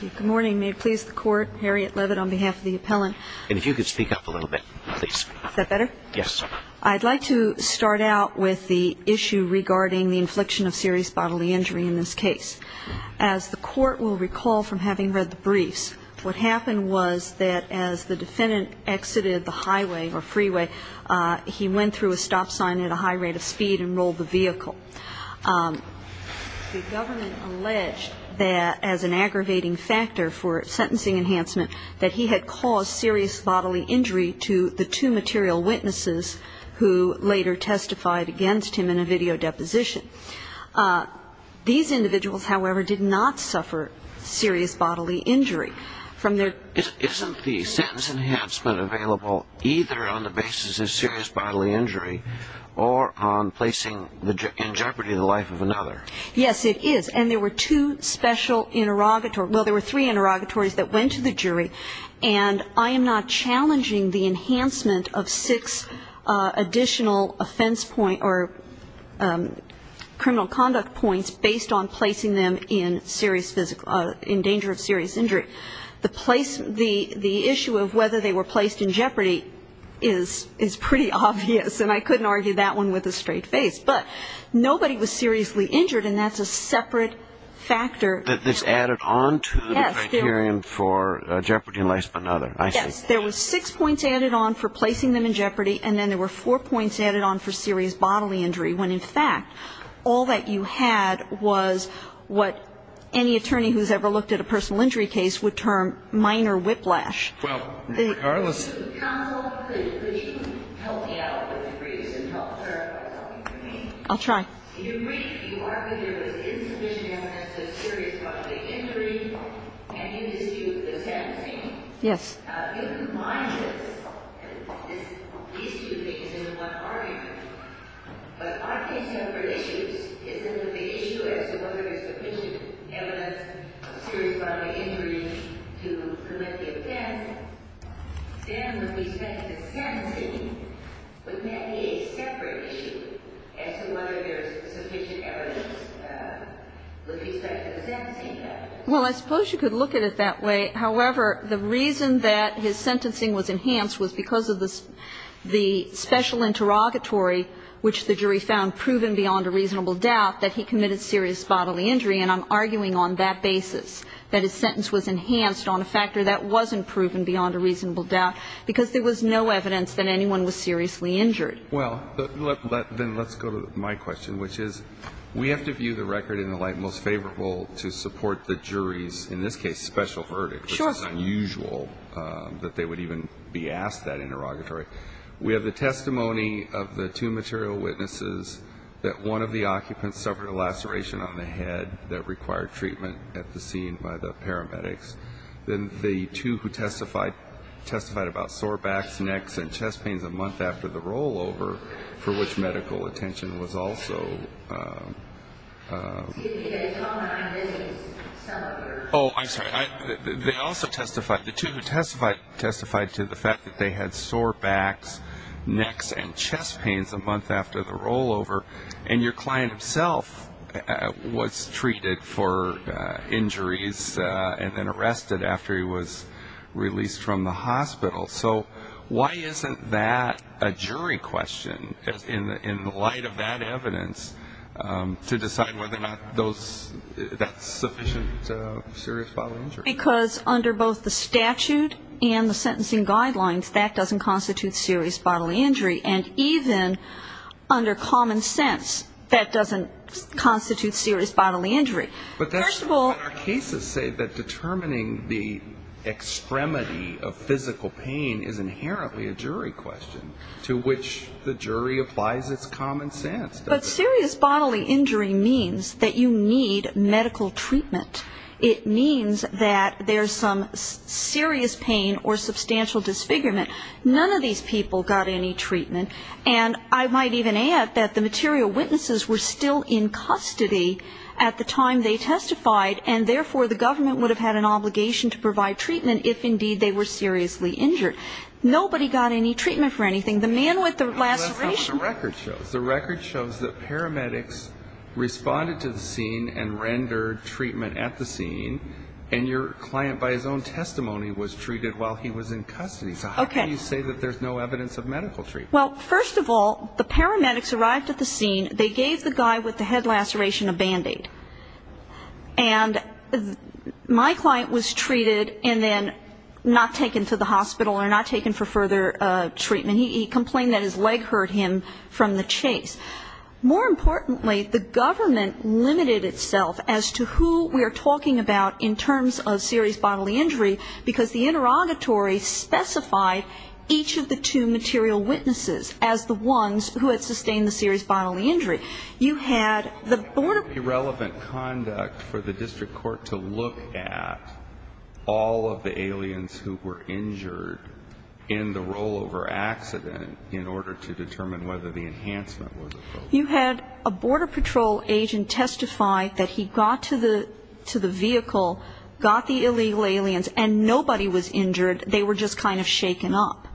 Good morning. May it please the court, Harriet Leavitt on behalf of the appellant. And if you could speak up a little bit, please. Is that better? Yes. I'd like to start out with the issue regarding the infliction of serious bodily injury in this case. As the court will recall from having read the briefs, what happened was that as the defendant exited the highway or freeway, he went through a stop sign at a high rate of speed and rolled the vehicle. The government alleged that as an aggravating factor for sentencing enhancement that he had caused serious bodily injury to the two material witnesses who later testified against him in a video deposition. These individuals, however, did not suffer serious bodily injury. Isn't the sentence enhancement available either on the basis of serious bodily injury or on placing in jeopardy the life of another? Yes, it is. And there were two special interrogatories. Well, there were three interrogatories that went to the jury. And I am not challenging the enhancement of six additional offense point or criminal conduct points based on placing them in serious physical, in danger of serious injury. The issue of whether they were placed in jeopardy is pretty obvious. And I couldn't argue that one with a straight face. But nobody was seriously injured, and that's a separate factor. This added on to the criterion for jeopardy in the life of another. Yes. There were six points added on for placing them in jeopardy, and then there were four points added on for serious bodily injury, when, in fact, all that you had was what any attorney who's ever looked at a personal injury case would term minor whiplash. Well, regardless. Counsel, could you help me out with the briefs and help clarify something for me? I'll try. In your brief, you argue there was insufficient evidence of serious bodily injury, and you dispute the sentencing. Yes. You combined this, these two things in one argument. But I think separate issues is that the issue as to whether there's sufficient evidence of serious bodily injury to commit the offense, then with respect to sentencing, would that be a separate issue as to whether there's sufficient evidence with respect to the sentencing evidence? Well, I suppose you could look at it that way. However, the reason that his sentencing was enhanced was because of the special interrogatory which the jury found proven beyond a reasonable doubt that he committed serious bodily injury. And I'm arguing on that basis that his sentence was enhanced on a factor that wasn't proven beyond a reasonable doubt because there was no evidence that anyone was seriously injured. Well, then let's go to my question, which is we have to view the record in the light most favorable to support the jury's, in this case, special verdict, which is unusual that they would even be asked that interrogatory. We have the testimony of the two material witnesses that one of the occupants suffered a laceration on the head that required treatment at the scene by the paramedics. Then the two who testified testified about sore backs, necks, and chest pains a month after the rollover, for which medical attention was also... Oh, I'm sorry. They also testified, the two who testified testified to the fact that they had sore backs, necks, and chest pains a month after the rollover, and your client himself was treated for injuries and then arrested after he was released from the hospital. So why isn't that a jury question in light of that evidence to decide whether or not that's sufficient serious bodily injury? Well, because under both the statute and the sentencing guidelines, that doesn't constitute serious bodily injury, and even under common sense, that doesn't constitute serious bodily injury. But our cases say that determining the extremity of physical pain is inherently a jury question, to which the jury applies its common sense. But serious bodily injury means that you need medical treatment. It means that there's some serious pain or substantial disfigurement. None of these people got any treatment. And I might even add that the material witnesses were still in custody at the time they testified, and therefore the government would have had an obligation to provide treatment if indeed they were seriously injured. Nobody got any treatment for anything. The man with the laceration... And your client by his own testimony was treated while he was in custody. So how do you say that there's no evidence of medical treatment? Well, first of all, the paramedics arrived at the scene. They gave the guy with the head laceration a Band-Aid. And my client was treated and then not taken to the hospital or not taken for further treatment. He complained that his leg hurt him from the chase. More importantly, the government limited itself as to who we are talking about in terms of serious bodily injury, because the interrogatory specified each of the two material witnesses as the ones who had sustained the serious bodily injury. You had the border... Irrelevant conduct for the district court to look at all of the aliens who were injured in the rollover accident in order to determine whether the enhancement was appropriate. You had a border patrol agent testify that he got to the vehicle, got the illegal aliens, and nobody was injured. They were just kind of shaken up.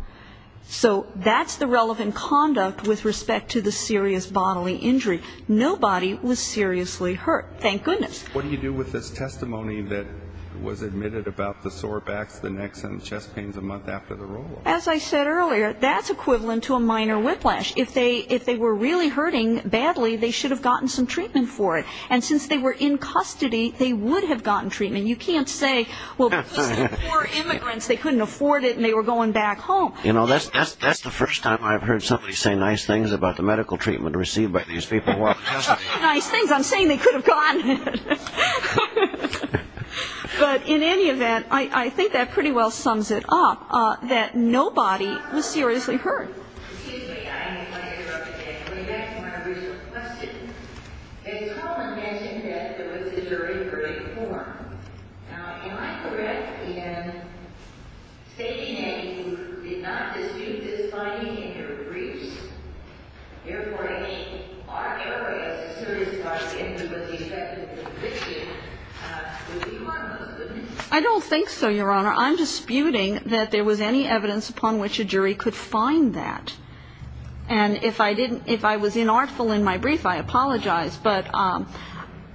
So that's the relevant conduct with respect to the serious bodily injury. Nobody was seriously hurt. Thank goodness. What do you do with this testimony that was admitted about the sore backs, the necks and chest pains a month after the rollover? As I said earlier, that's equivalent to a minor whiplash. If they were really hurting badly, they should have gotten some treatment for it. And since they were in custody, they would have gotten treatment. You can't say, well, poor immigrants, they couldn't afford it and they were going back home. You know, that's the first time I've heard somebody say nice things about the medical treatment received by these people. Nice things, I'm saying they could have gone. But in any event, I think that pretty well sums it up, that nobody was seriously hurt. Excuse me, I might interrupt again. Going back to my original question. As Colin mentioned, there was a jury for reform. Now, am I correct in stating that you did not dispute this finding in your briefs? Therefore, I mean, aren't there ways a serious bodily injury was the effect of the conviction? Would we want those witnesses? I don't think so, Your Honor. I'm disputing that there was any evidence upon which a jury could find that. And if I was inartful in my brief, I apologize. But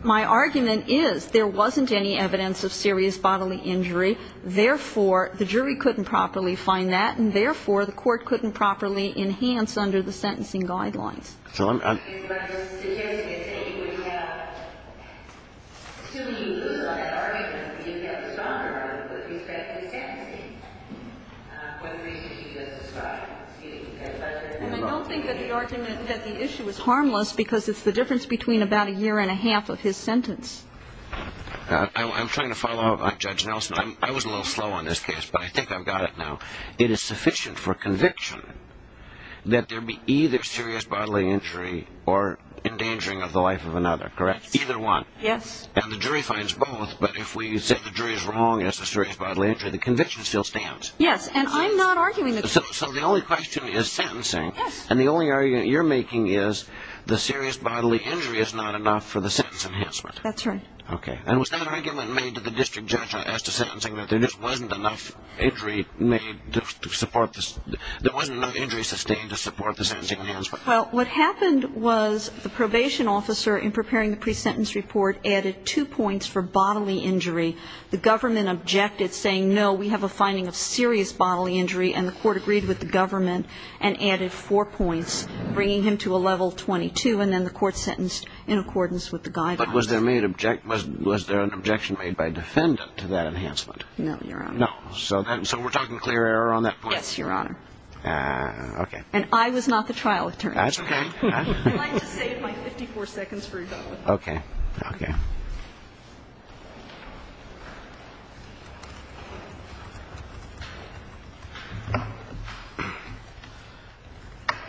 my argument is there wasn't any evidence of serious bodily injury. Therefore, the jury couldn't properly find that. And therefore, the court couldn't properly enhance under the sentencing guidelines. So I'm going to suggest that you would have, assuming you lose on that argument, that you would have a stronger argument with respect to the sentencing, for the reasons you just described. Excuse me. And I don't think that the argument, that the issue is harmless because it's the difference between about a year and a half of his sentence. I'm trying to follow up, Judge Nelson. I was a little slow on this case, but I think I've got it now. It is sufficient for conviction that there be either serious bodily injury or endangering of the life of another, correct? Either one. Yes. And the jury finds both. But if we said the jury is wrong as to serious bodily injury, the conviction still stands. Yes. And I'm not arguing the jury. So the only question is sentencing. Yes. And the only argument you're making is the serious bodily injury is not enough for the sentence enhancement. That's right. Okay. And was that argument made to the district judge as to sentencing, that there just wasn't enough injury sustained to support the sentencing enhancement? Well, what happened was the probation officer, in preparing the pre-sentence report, added two points for bodily injury. The government objected, saying, no, we have a finding of serious bodily injury, and the court agreed with the government and added four points, bringing him to a level 22, and then the court sentenced in accordance with the guidelines. But was there an objection made by a defendant to that enhancement? No, Your Honor. No. So we're talking clear error on that point? Yes, Your Honor. Okay. And I was not the trial attorney. That's okay. I'd like to save my 54 seconds for your government. Okay. Okay.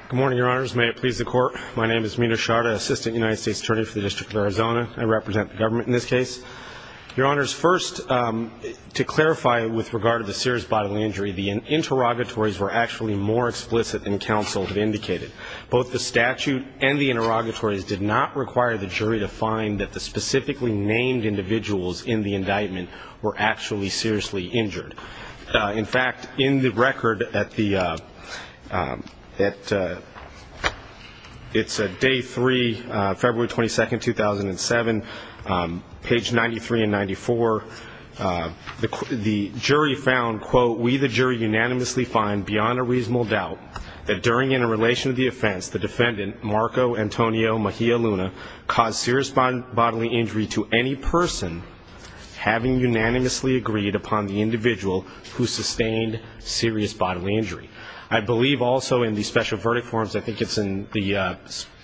Good morning, Your Honors. May it please the Court. My name is Mita Sharda, Assistant United States Attorney for the District of Arizona. I represent the government in this case. Your Honors, first, to clarify with regard to the serious bodily injury, the interrogatories were actually more explicit than counsel had indicated. Both the statute and the interrogatories did not require the jury to find that the specifically named individuals in the indictment were actually seriously injured. In fact, in the record at the day three, February 22, 2007, page 93 and 94, the jury found, quote, we the jury unanimously find beyond a reasonable doubt that during interrelation of the offense, the defendant, Marco Antonio Mejia Luna, caused serious bodily injury to any person having unanimously agreed upon the individual who sustained serious bodily injury. I believe also in the special verdict forms, I think it's in the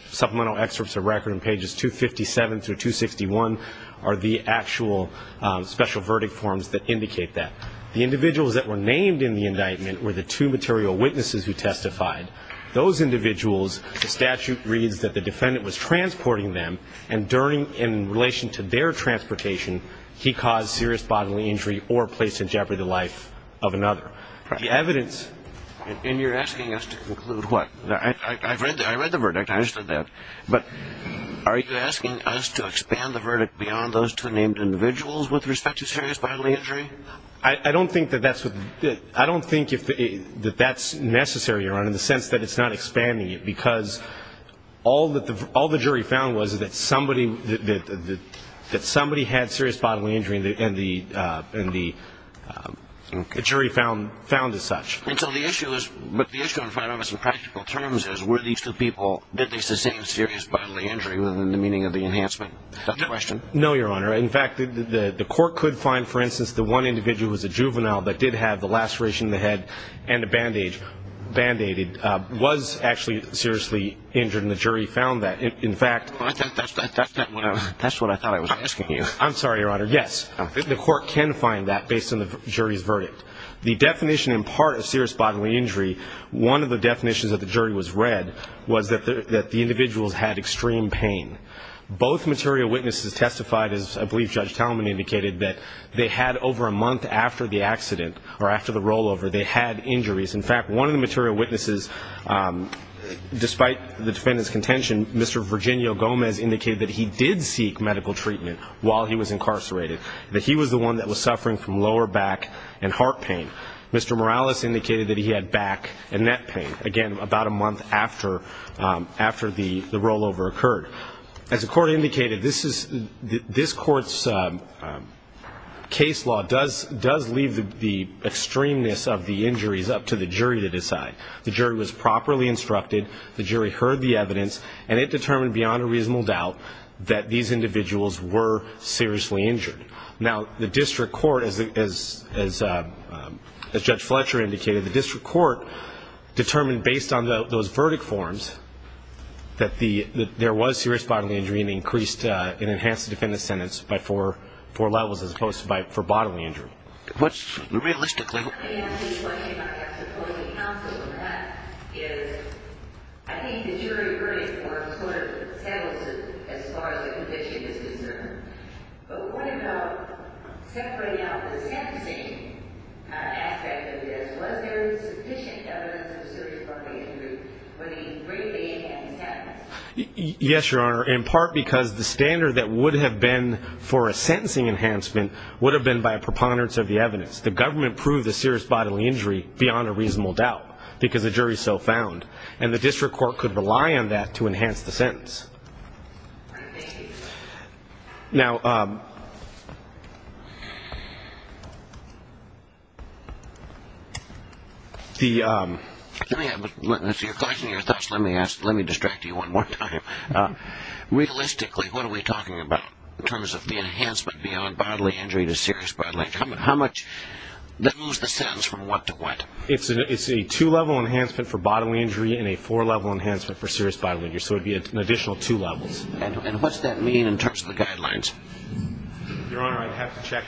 supplemental excerpts of record in pages 257 through 261, are the actual special verdict forms that indicate that. The individuals that were named in the indictment were the two material witnesses who testified. Those individuals, the statute reads that the defendant was transporting them, and in relation to their transportation, he caused serious bodily injury or placed in jeopardy to the life of another. The evidence. And you're asking us to conclude what? I read the verdict. I understood that. But are you asking us to expand the verdict beyond those two named individuals with respect to serious bodily injury? I don't think that that's necessary, Your Honor, in the sense that it's not expanding it, because all the jury found was that somebody had serious bodily injury, and the jury found as such. And so the issue is, but the issue in front of us in practical terms is, were these two people, did they sustain serious bodily injury within the meaning of the enhancement question? No, Your Honor. In fact, the court could find, for instance, the one individual was a juvenile that did have the laceration in the head and a bandage, band-aided, was actually seriously injured, and the jury found that. In fact. That's what I thought I was asking you. I'm sorry, Your Honor. Yes. The court can find that based on the jury's verdict. The definition in part of serious bodily injury, one of the definitions that the jury was read was that the individuals had extreme pain. Both material witnesses testified, as I believe Judge Talman indicated, that they had over a month after the accident or after the rollover, they had injuries. In fact, one of the material witnesses, despite the defendant's contention, Mr. Virginio Gomez indicated that he did seek medical treatment while he was incarcerated, that he was the one that was suffering from lower back and heart pain. Mr. Morales indicated that he had back and neck pain, again, about a month after the rollover occurred. As the court indicated, this court's case law does leave the extremeness of the injuries up to the jury to decide. The jury was properly instructed, the jury heard the evidence, and it determined beyond a reasonable doubt that these individuals were seriously injured. Now, the district court, as Judge Fletcher indicated, the district court determined based on those verdict forms that there was serious bodily injury and increased and enhanced the defendant's sentence by four levels as opposed to for bodily injury. Realistically. I'm going to ask you a question about your supposing counsel, and that is, I think the jury verdict form sort of settles it as far as the conviction is concerned, but what about, separating out the sentencing aspect of this, was there sufficient evidence of serious bodily injury for the greatly enhanced sentence? Yes, Your Honor, in part because the standard that would have been for a sentencing enhancement would have been by preponderance of the evidence. The government proved the serious bodily injury beyond a reasonable doubt because the jury so found, and the district court could rely on that to enhance the sentence. Now, let me ask, let me distract you one more time. Realistically, what are we talking about in terms of the enhancement beyond bodily injury to serious bodily injury? How much, that moves the sentence from what to what? It's a two-level enhancement for bodily injury and a four-level enhancement for serious bodily injury, so it would be an additional two levels. And what's that mean in terms of the guidelines? Your Honor, I'd have to check.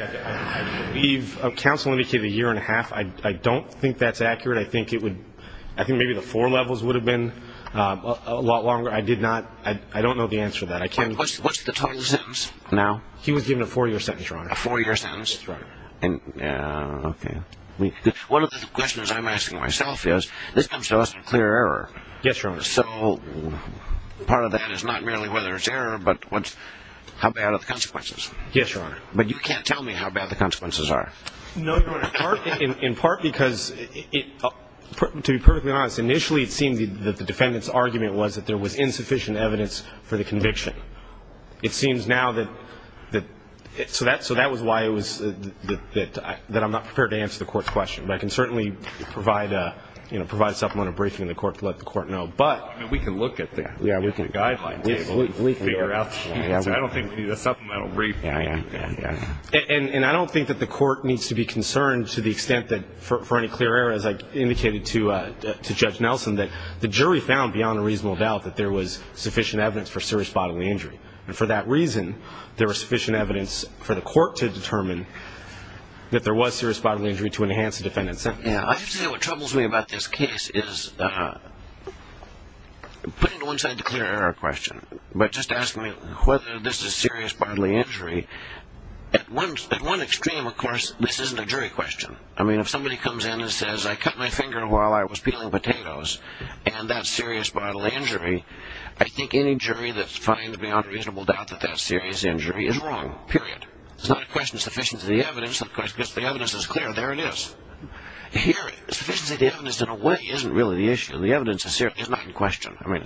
We've, counsel indicated a year and a half. I don't think that's accurate. I think it would, I think maybe the four levels would have been a lot longer. I did not, I don't know the answer to that. What's the total sentence now? He was given a four-year sentence, Your Honor. A four-year sentence? That's right. Okay. One of the questions I'm asking myself is, this comes to us in clear error. Yes, Your Honor. So part of that is not merely whether it's error, but how bad are the consequences? Yes, Your Honor. But you can't tell me how bad the consequences are. No, Your Honor, in part because, to be perfectly honest, initially it seemed that the defendant's argument was that there was insufficient evidence for the conviction. It seems now that, so that was why it was that I'm not prepared to answer the court's question. But I can certainly provide a supplemental briefing to the court to let the court know. But we can look at the guideline table and figure out the answer. I don't think we need a supplemental briefing. And I don't think that the court needs to be concerned to the extent that, for any clear error, as I indicated to Judge Nelson, that the jury found, beyond a reasonable doubt, that there was sufficient evidence for serious bodily injury. And for that reason, there was sufficient evidence for the court to determine that there was serious bodily injury to enhance the defendant's sentence. I have to say what troubles me about this case is, putting it to one side, the clear error question. But just ask me whether this is serious bodily injury. At one extreme, of course, this isn't a jury question. I mean, if somebody comes in and says, I cut my finger while I was peeling potatoes, and that's serious bodily injury, I think any jury that finds, beyond a reasonable doubt, that that's serious injury is wrong, period. It's not a question of sufficiency of the evidence. Of course, if the evidence is clear, there it is. Here, sufficiency of the evidence, in a way, isn't really the issue. The evidence is not in question. I mean,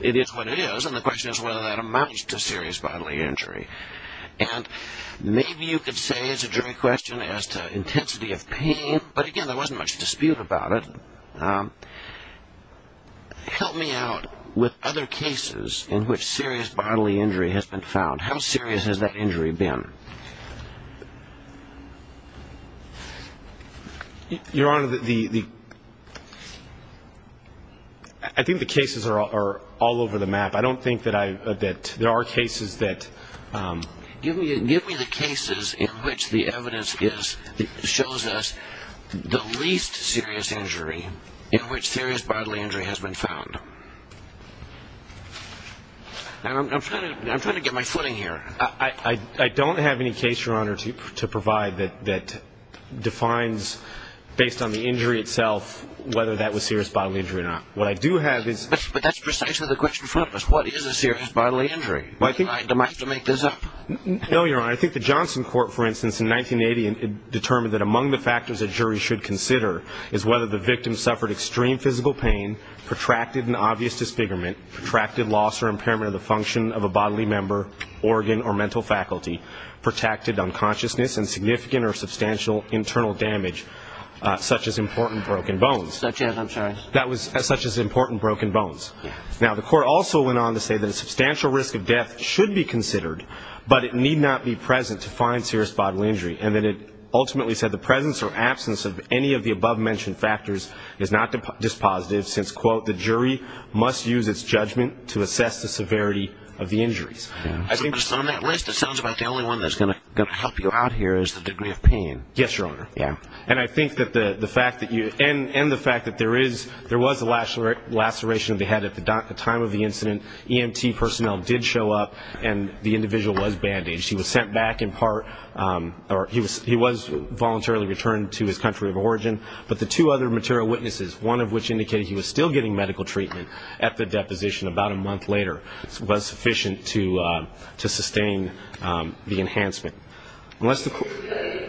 it is what it is, and the question is whether that amounts to serious bodily injury. And maybe you could say it's a jury question as to intensity of pain. But, again, there wasn't much dispute about it. Help me out with other cases in which serious bodily injury has been found. How serious has that injury been? Your Honor, I think the cases are all over the map. I don't think that there are cases that ---- Give me the cases in which the evidence shows us the least serious injury in which serious bodily injury has been found. I'm trying to get my footing here. I don't have any case, Your Honor, to provide that defines, based on the injury itself, whether that was serious bodily injury or not. What I do have is ---- But that's precisely the question in front of us. What is a serious bodily injury? Do I have to make this up? No, Your Honor. I think the Johnson Court, for instance, in 1980, determined that among the factors a jury should consider is whether the victim suffered extreme physical pain, protracted and obvious disfigurement, protracted loss or impairment of the function of a bodily member, organ or mental faculty, protracted unconsciousness, and significant or substantial internal damage, such as important broken bones. Such as? I'm sorry. Such as important broken bones. Now, the court also went on to say that a substantial risk of death should be considered, but it need not be present to find serious bodily injury, and that it ultimately said the presence or absence of any of the above-mentioned factors is not dispositive since, quote, the jury must use its judgment to assess the severity of the injuries. So based on that risk, it sounds like the only one that's going to help you out here is the degree of pain. Yes, Your Honor. Yeah. And I think that the fact that you end the fact that there is, there was a laceration of the head at the time of the incident. EMT personnel did show up, and the individual was bandaged. He was sent back in part, or he was voluntarily returned to his country of origin. But the two other material witnesses, one of which indicated he was still getting medical treatment at the deposition about a month later, was sufficient to sustain the enhancement. Okay.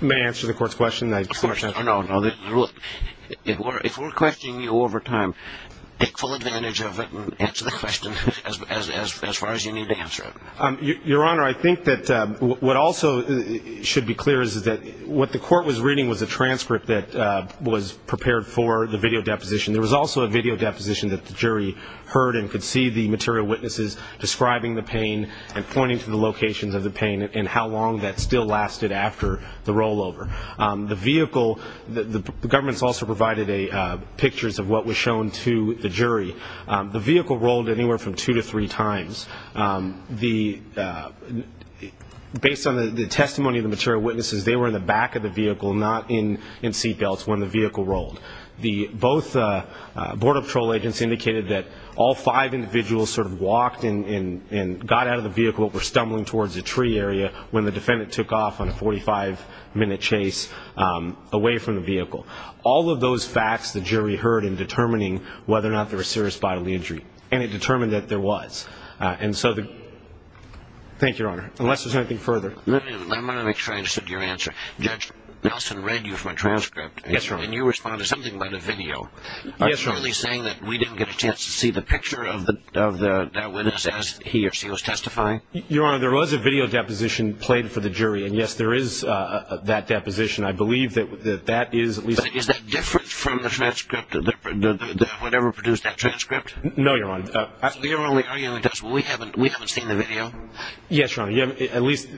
May I answer the court's question? If we're questioning you over time, take full advantage of it and answer the question as far as you need to answer it. Your Honor, I think that what also should be clear is that what the court was reading was a transcript that was prepared for the video deposition. There was also a video deposition that the jury heard and could see the material witnesses describing the pain and pointing to the locations of the pain and how long that still lasted after the rollover. The vehicle, the government's also provided pictures of what was shown to the jury. The vehicle rolled anywhere from two to three times. Based on the testimony of the material witnesses, they were in the back of the vehicle, not in seat belts when the vehicle rolled. Both border patrol agents indicated that all five individuals sort of walked and got out of the vehicle but were stumbling towards a tree area when the defendant took off on a 45-minute chase away from the vehicle. All of those facts the jury heard in determining whether or not there was serious bodily injury and it determined that there was. Thank you, Your Honor. Unless there's anything further. I want to make sure I understood your answer. Judge Nelson read you from a transcript. Yes, Your Honor. And you responded to something about a video. Yes, Your Honor. Are you really saying that we didn't get a chance to see the picture of that witness as he or she was testifying? Your Honor, there was a video deposition played for the jury. And, yes, there is that deposition. I believe that that is at least. But is that different from the transcript, whatever produced that transcript? No, Your Honor. So you're arguing that we haven't seen the video? Yes, Your Honor. At least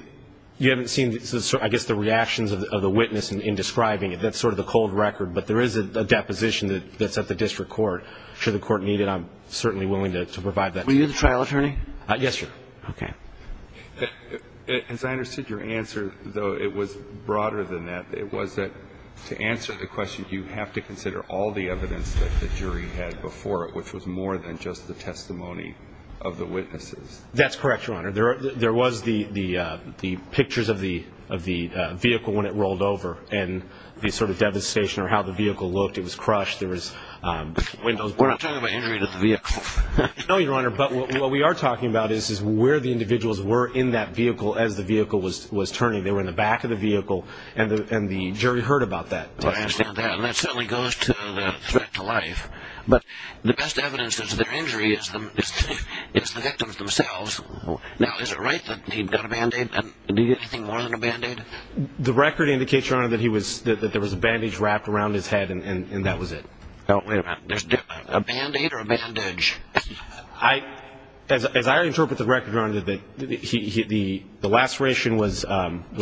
you haven't seen, I guess, the reactions of the witness in describing it. That's sort of the cold record. But there is a deposition that's at the district court. Should the court need it, I'm certainly willing to provide that. Were you the trial attorney? Yes, sir. Okay. As I understood your answer, though it was broader than that, it was that to answer the question you have to consider all the evidence that the jury had before it, which was more than just the testimony of the witnesses. That's correct, Your Honor. There was the pictures of the vehicle when it rolled over and the sort of devastation or how the vehicle looked. It was crushed. There was windows blown up. We're not talking about injury to the vehicle. No, Your Honor. But what we are talking about is where the individuals were in that vehicle as the vehicle was turning. They were in the back of the vehicle, and the jury heard about that. I understand that. And that certainly goes to the threat to life. But the best evidence is their injury is the victims themselves. Now, is it right that he got a Band-Aid? Did he get anything more than a Band-Aid? The record indicates, Your Honor, that there was a Band-Aid wrapped around his head, and that was it. Wait a minute. A Band-Aid or a bandage? As I interpret the record, Your Honor, the laceration was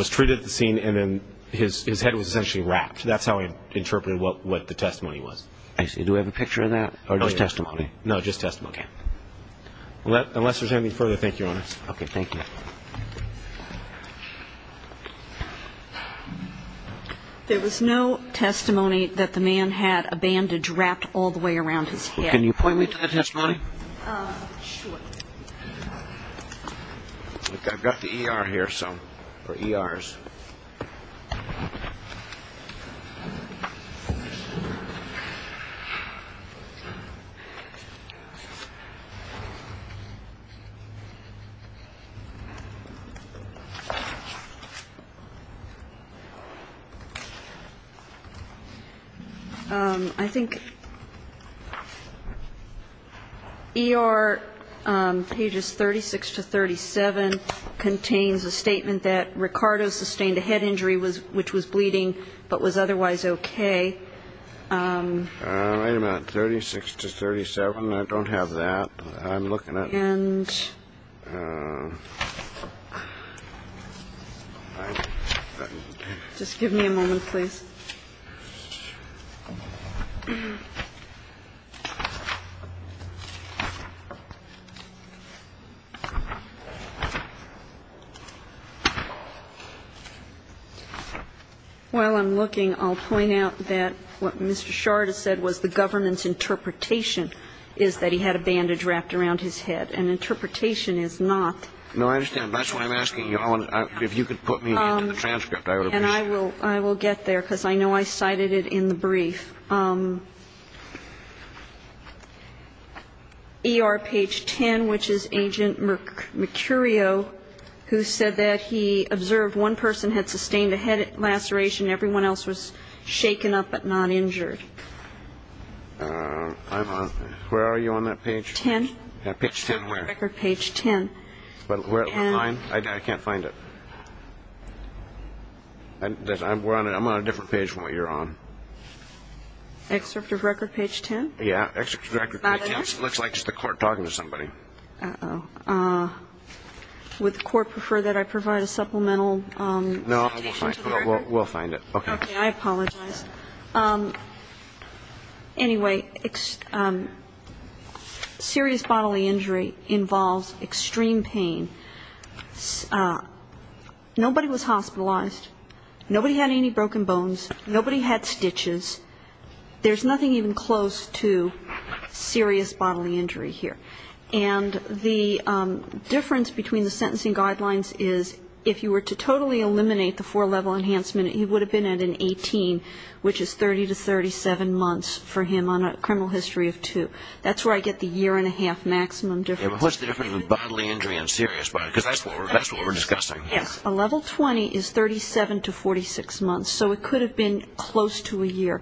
treated at the scene, and then his head was essentially wrapped. That's how I interpreted what the testimony was. I see. Do we have a picture of that or just testimony? No, just testimony. Okay. Unless there's anything further, thank you, Your Honor. Okay. Thank you. There was no testimony that the man had a bandage wrapped all the way around his head. Can you point me to that testimony? Sure. I've got the ER here, so, for ERs. I think ER pages 36 to 37 contains a statement that Ricardo Sustainability which was bleeding but was otherwise okay. Wait a minute. 36 to 37. I don't have that. I'm looking at it. Just give me a moment, please. While I'm looking, I'll point out that what Mr. Shard has said was the government's interpretation is that he had a bandage wrapped around his head. And interpretation is not. No, I understand. That's why I'm asking you. If you could put me into the transcript, I would appreciate it. And I will get there because I know I cited it in the brief. ER page 10, which is Agent Mercurio, who said that he observed one person had sustained a head laceration. Everyone else was shaken up but not injured. Where are you on that page? Ten. Page 10 where? Record page 10. I can't find it. I'm on a different page from what you're on. Excerpt of record page 10? Yeah, excerpt of record page 10. It looks like just the court talking to somebody. Uh-oh. Would the court prefer that I provide a supplemental citation to the record? No, we'll find it. Okay. I apologize. Anyway, serious bodily injury involves extreme pain. Nobody was hospitalized. Nobody had any broken bones. Nobody had stitches. There's nothing even close to serious bodily injury here. And the difference between the sentencing guidelines is if you were to totally eliminate the four-level enhancement, he would have been at an 18, which is 30 to 37 months for him on a criminal history of two. That's where I get the year-and-a-half maximum difference. What's the difference between bodily injury and serious bodily injury? Because that's what we're discussing. Yes. A level 20 is 37 to 46 months, so it could have been close to a year.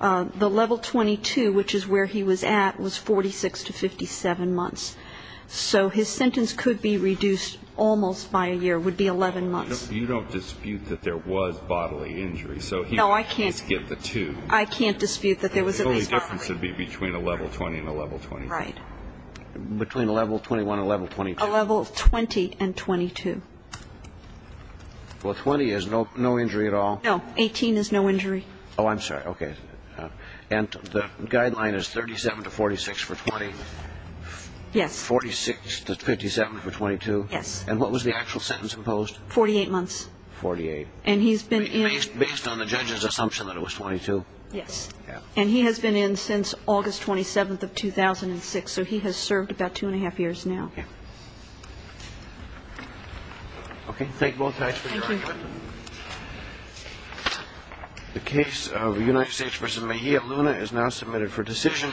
The level 22, which is where he was at, was 46 to 57 months. So his sentence could be reduced almost by a year, would be 11 months. You don't dispute that there was bodily injury. No, I can't. I can't dispute that there was at least bodily injury. The only difference would be between a level 20 and a level 22. Right. Between a level 21 and a level 22. A level 20 and 22. Well, 20 is no injury at all. No. 18 is no injury. Oh, I'm sorry. Okay. And the guideline is 37 to 46 for 20? Yes. 46 to 57 for 22? Yes. And what was the actual sentence imposed? 48 months. 48. And he's been in. Based on the judge's assumption that it was 22? Yes. Yeah. And he has been in since August 27th of 2006, so he has served about two and a half years now. Yeah. Okay. Thank you. Thank you. Thank you. The case of United States v. Mejia Luna is now submitted for decision.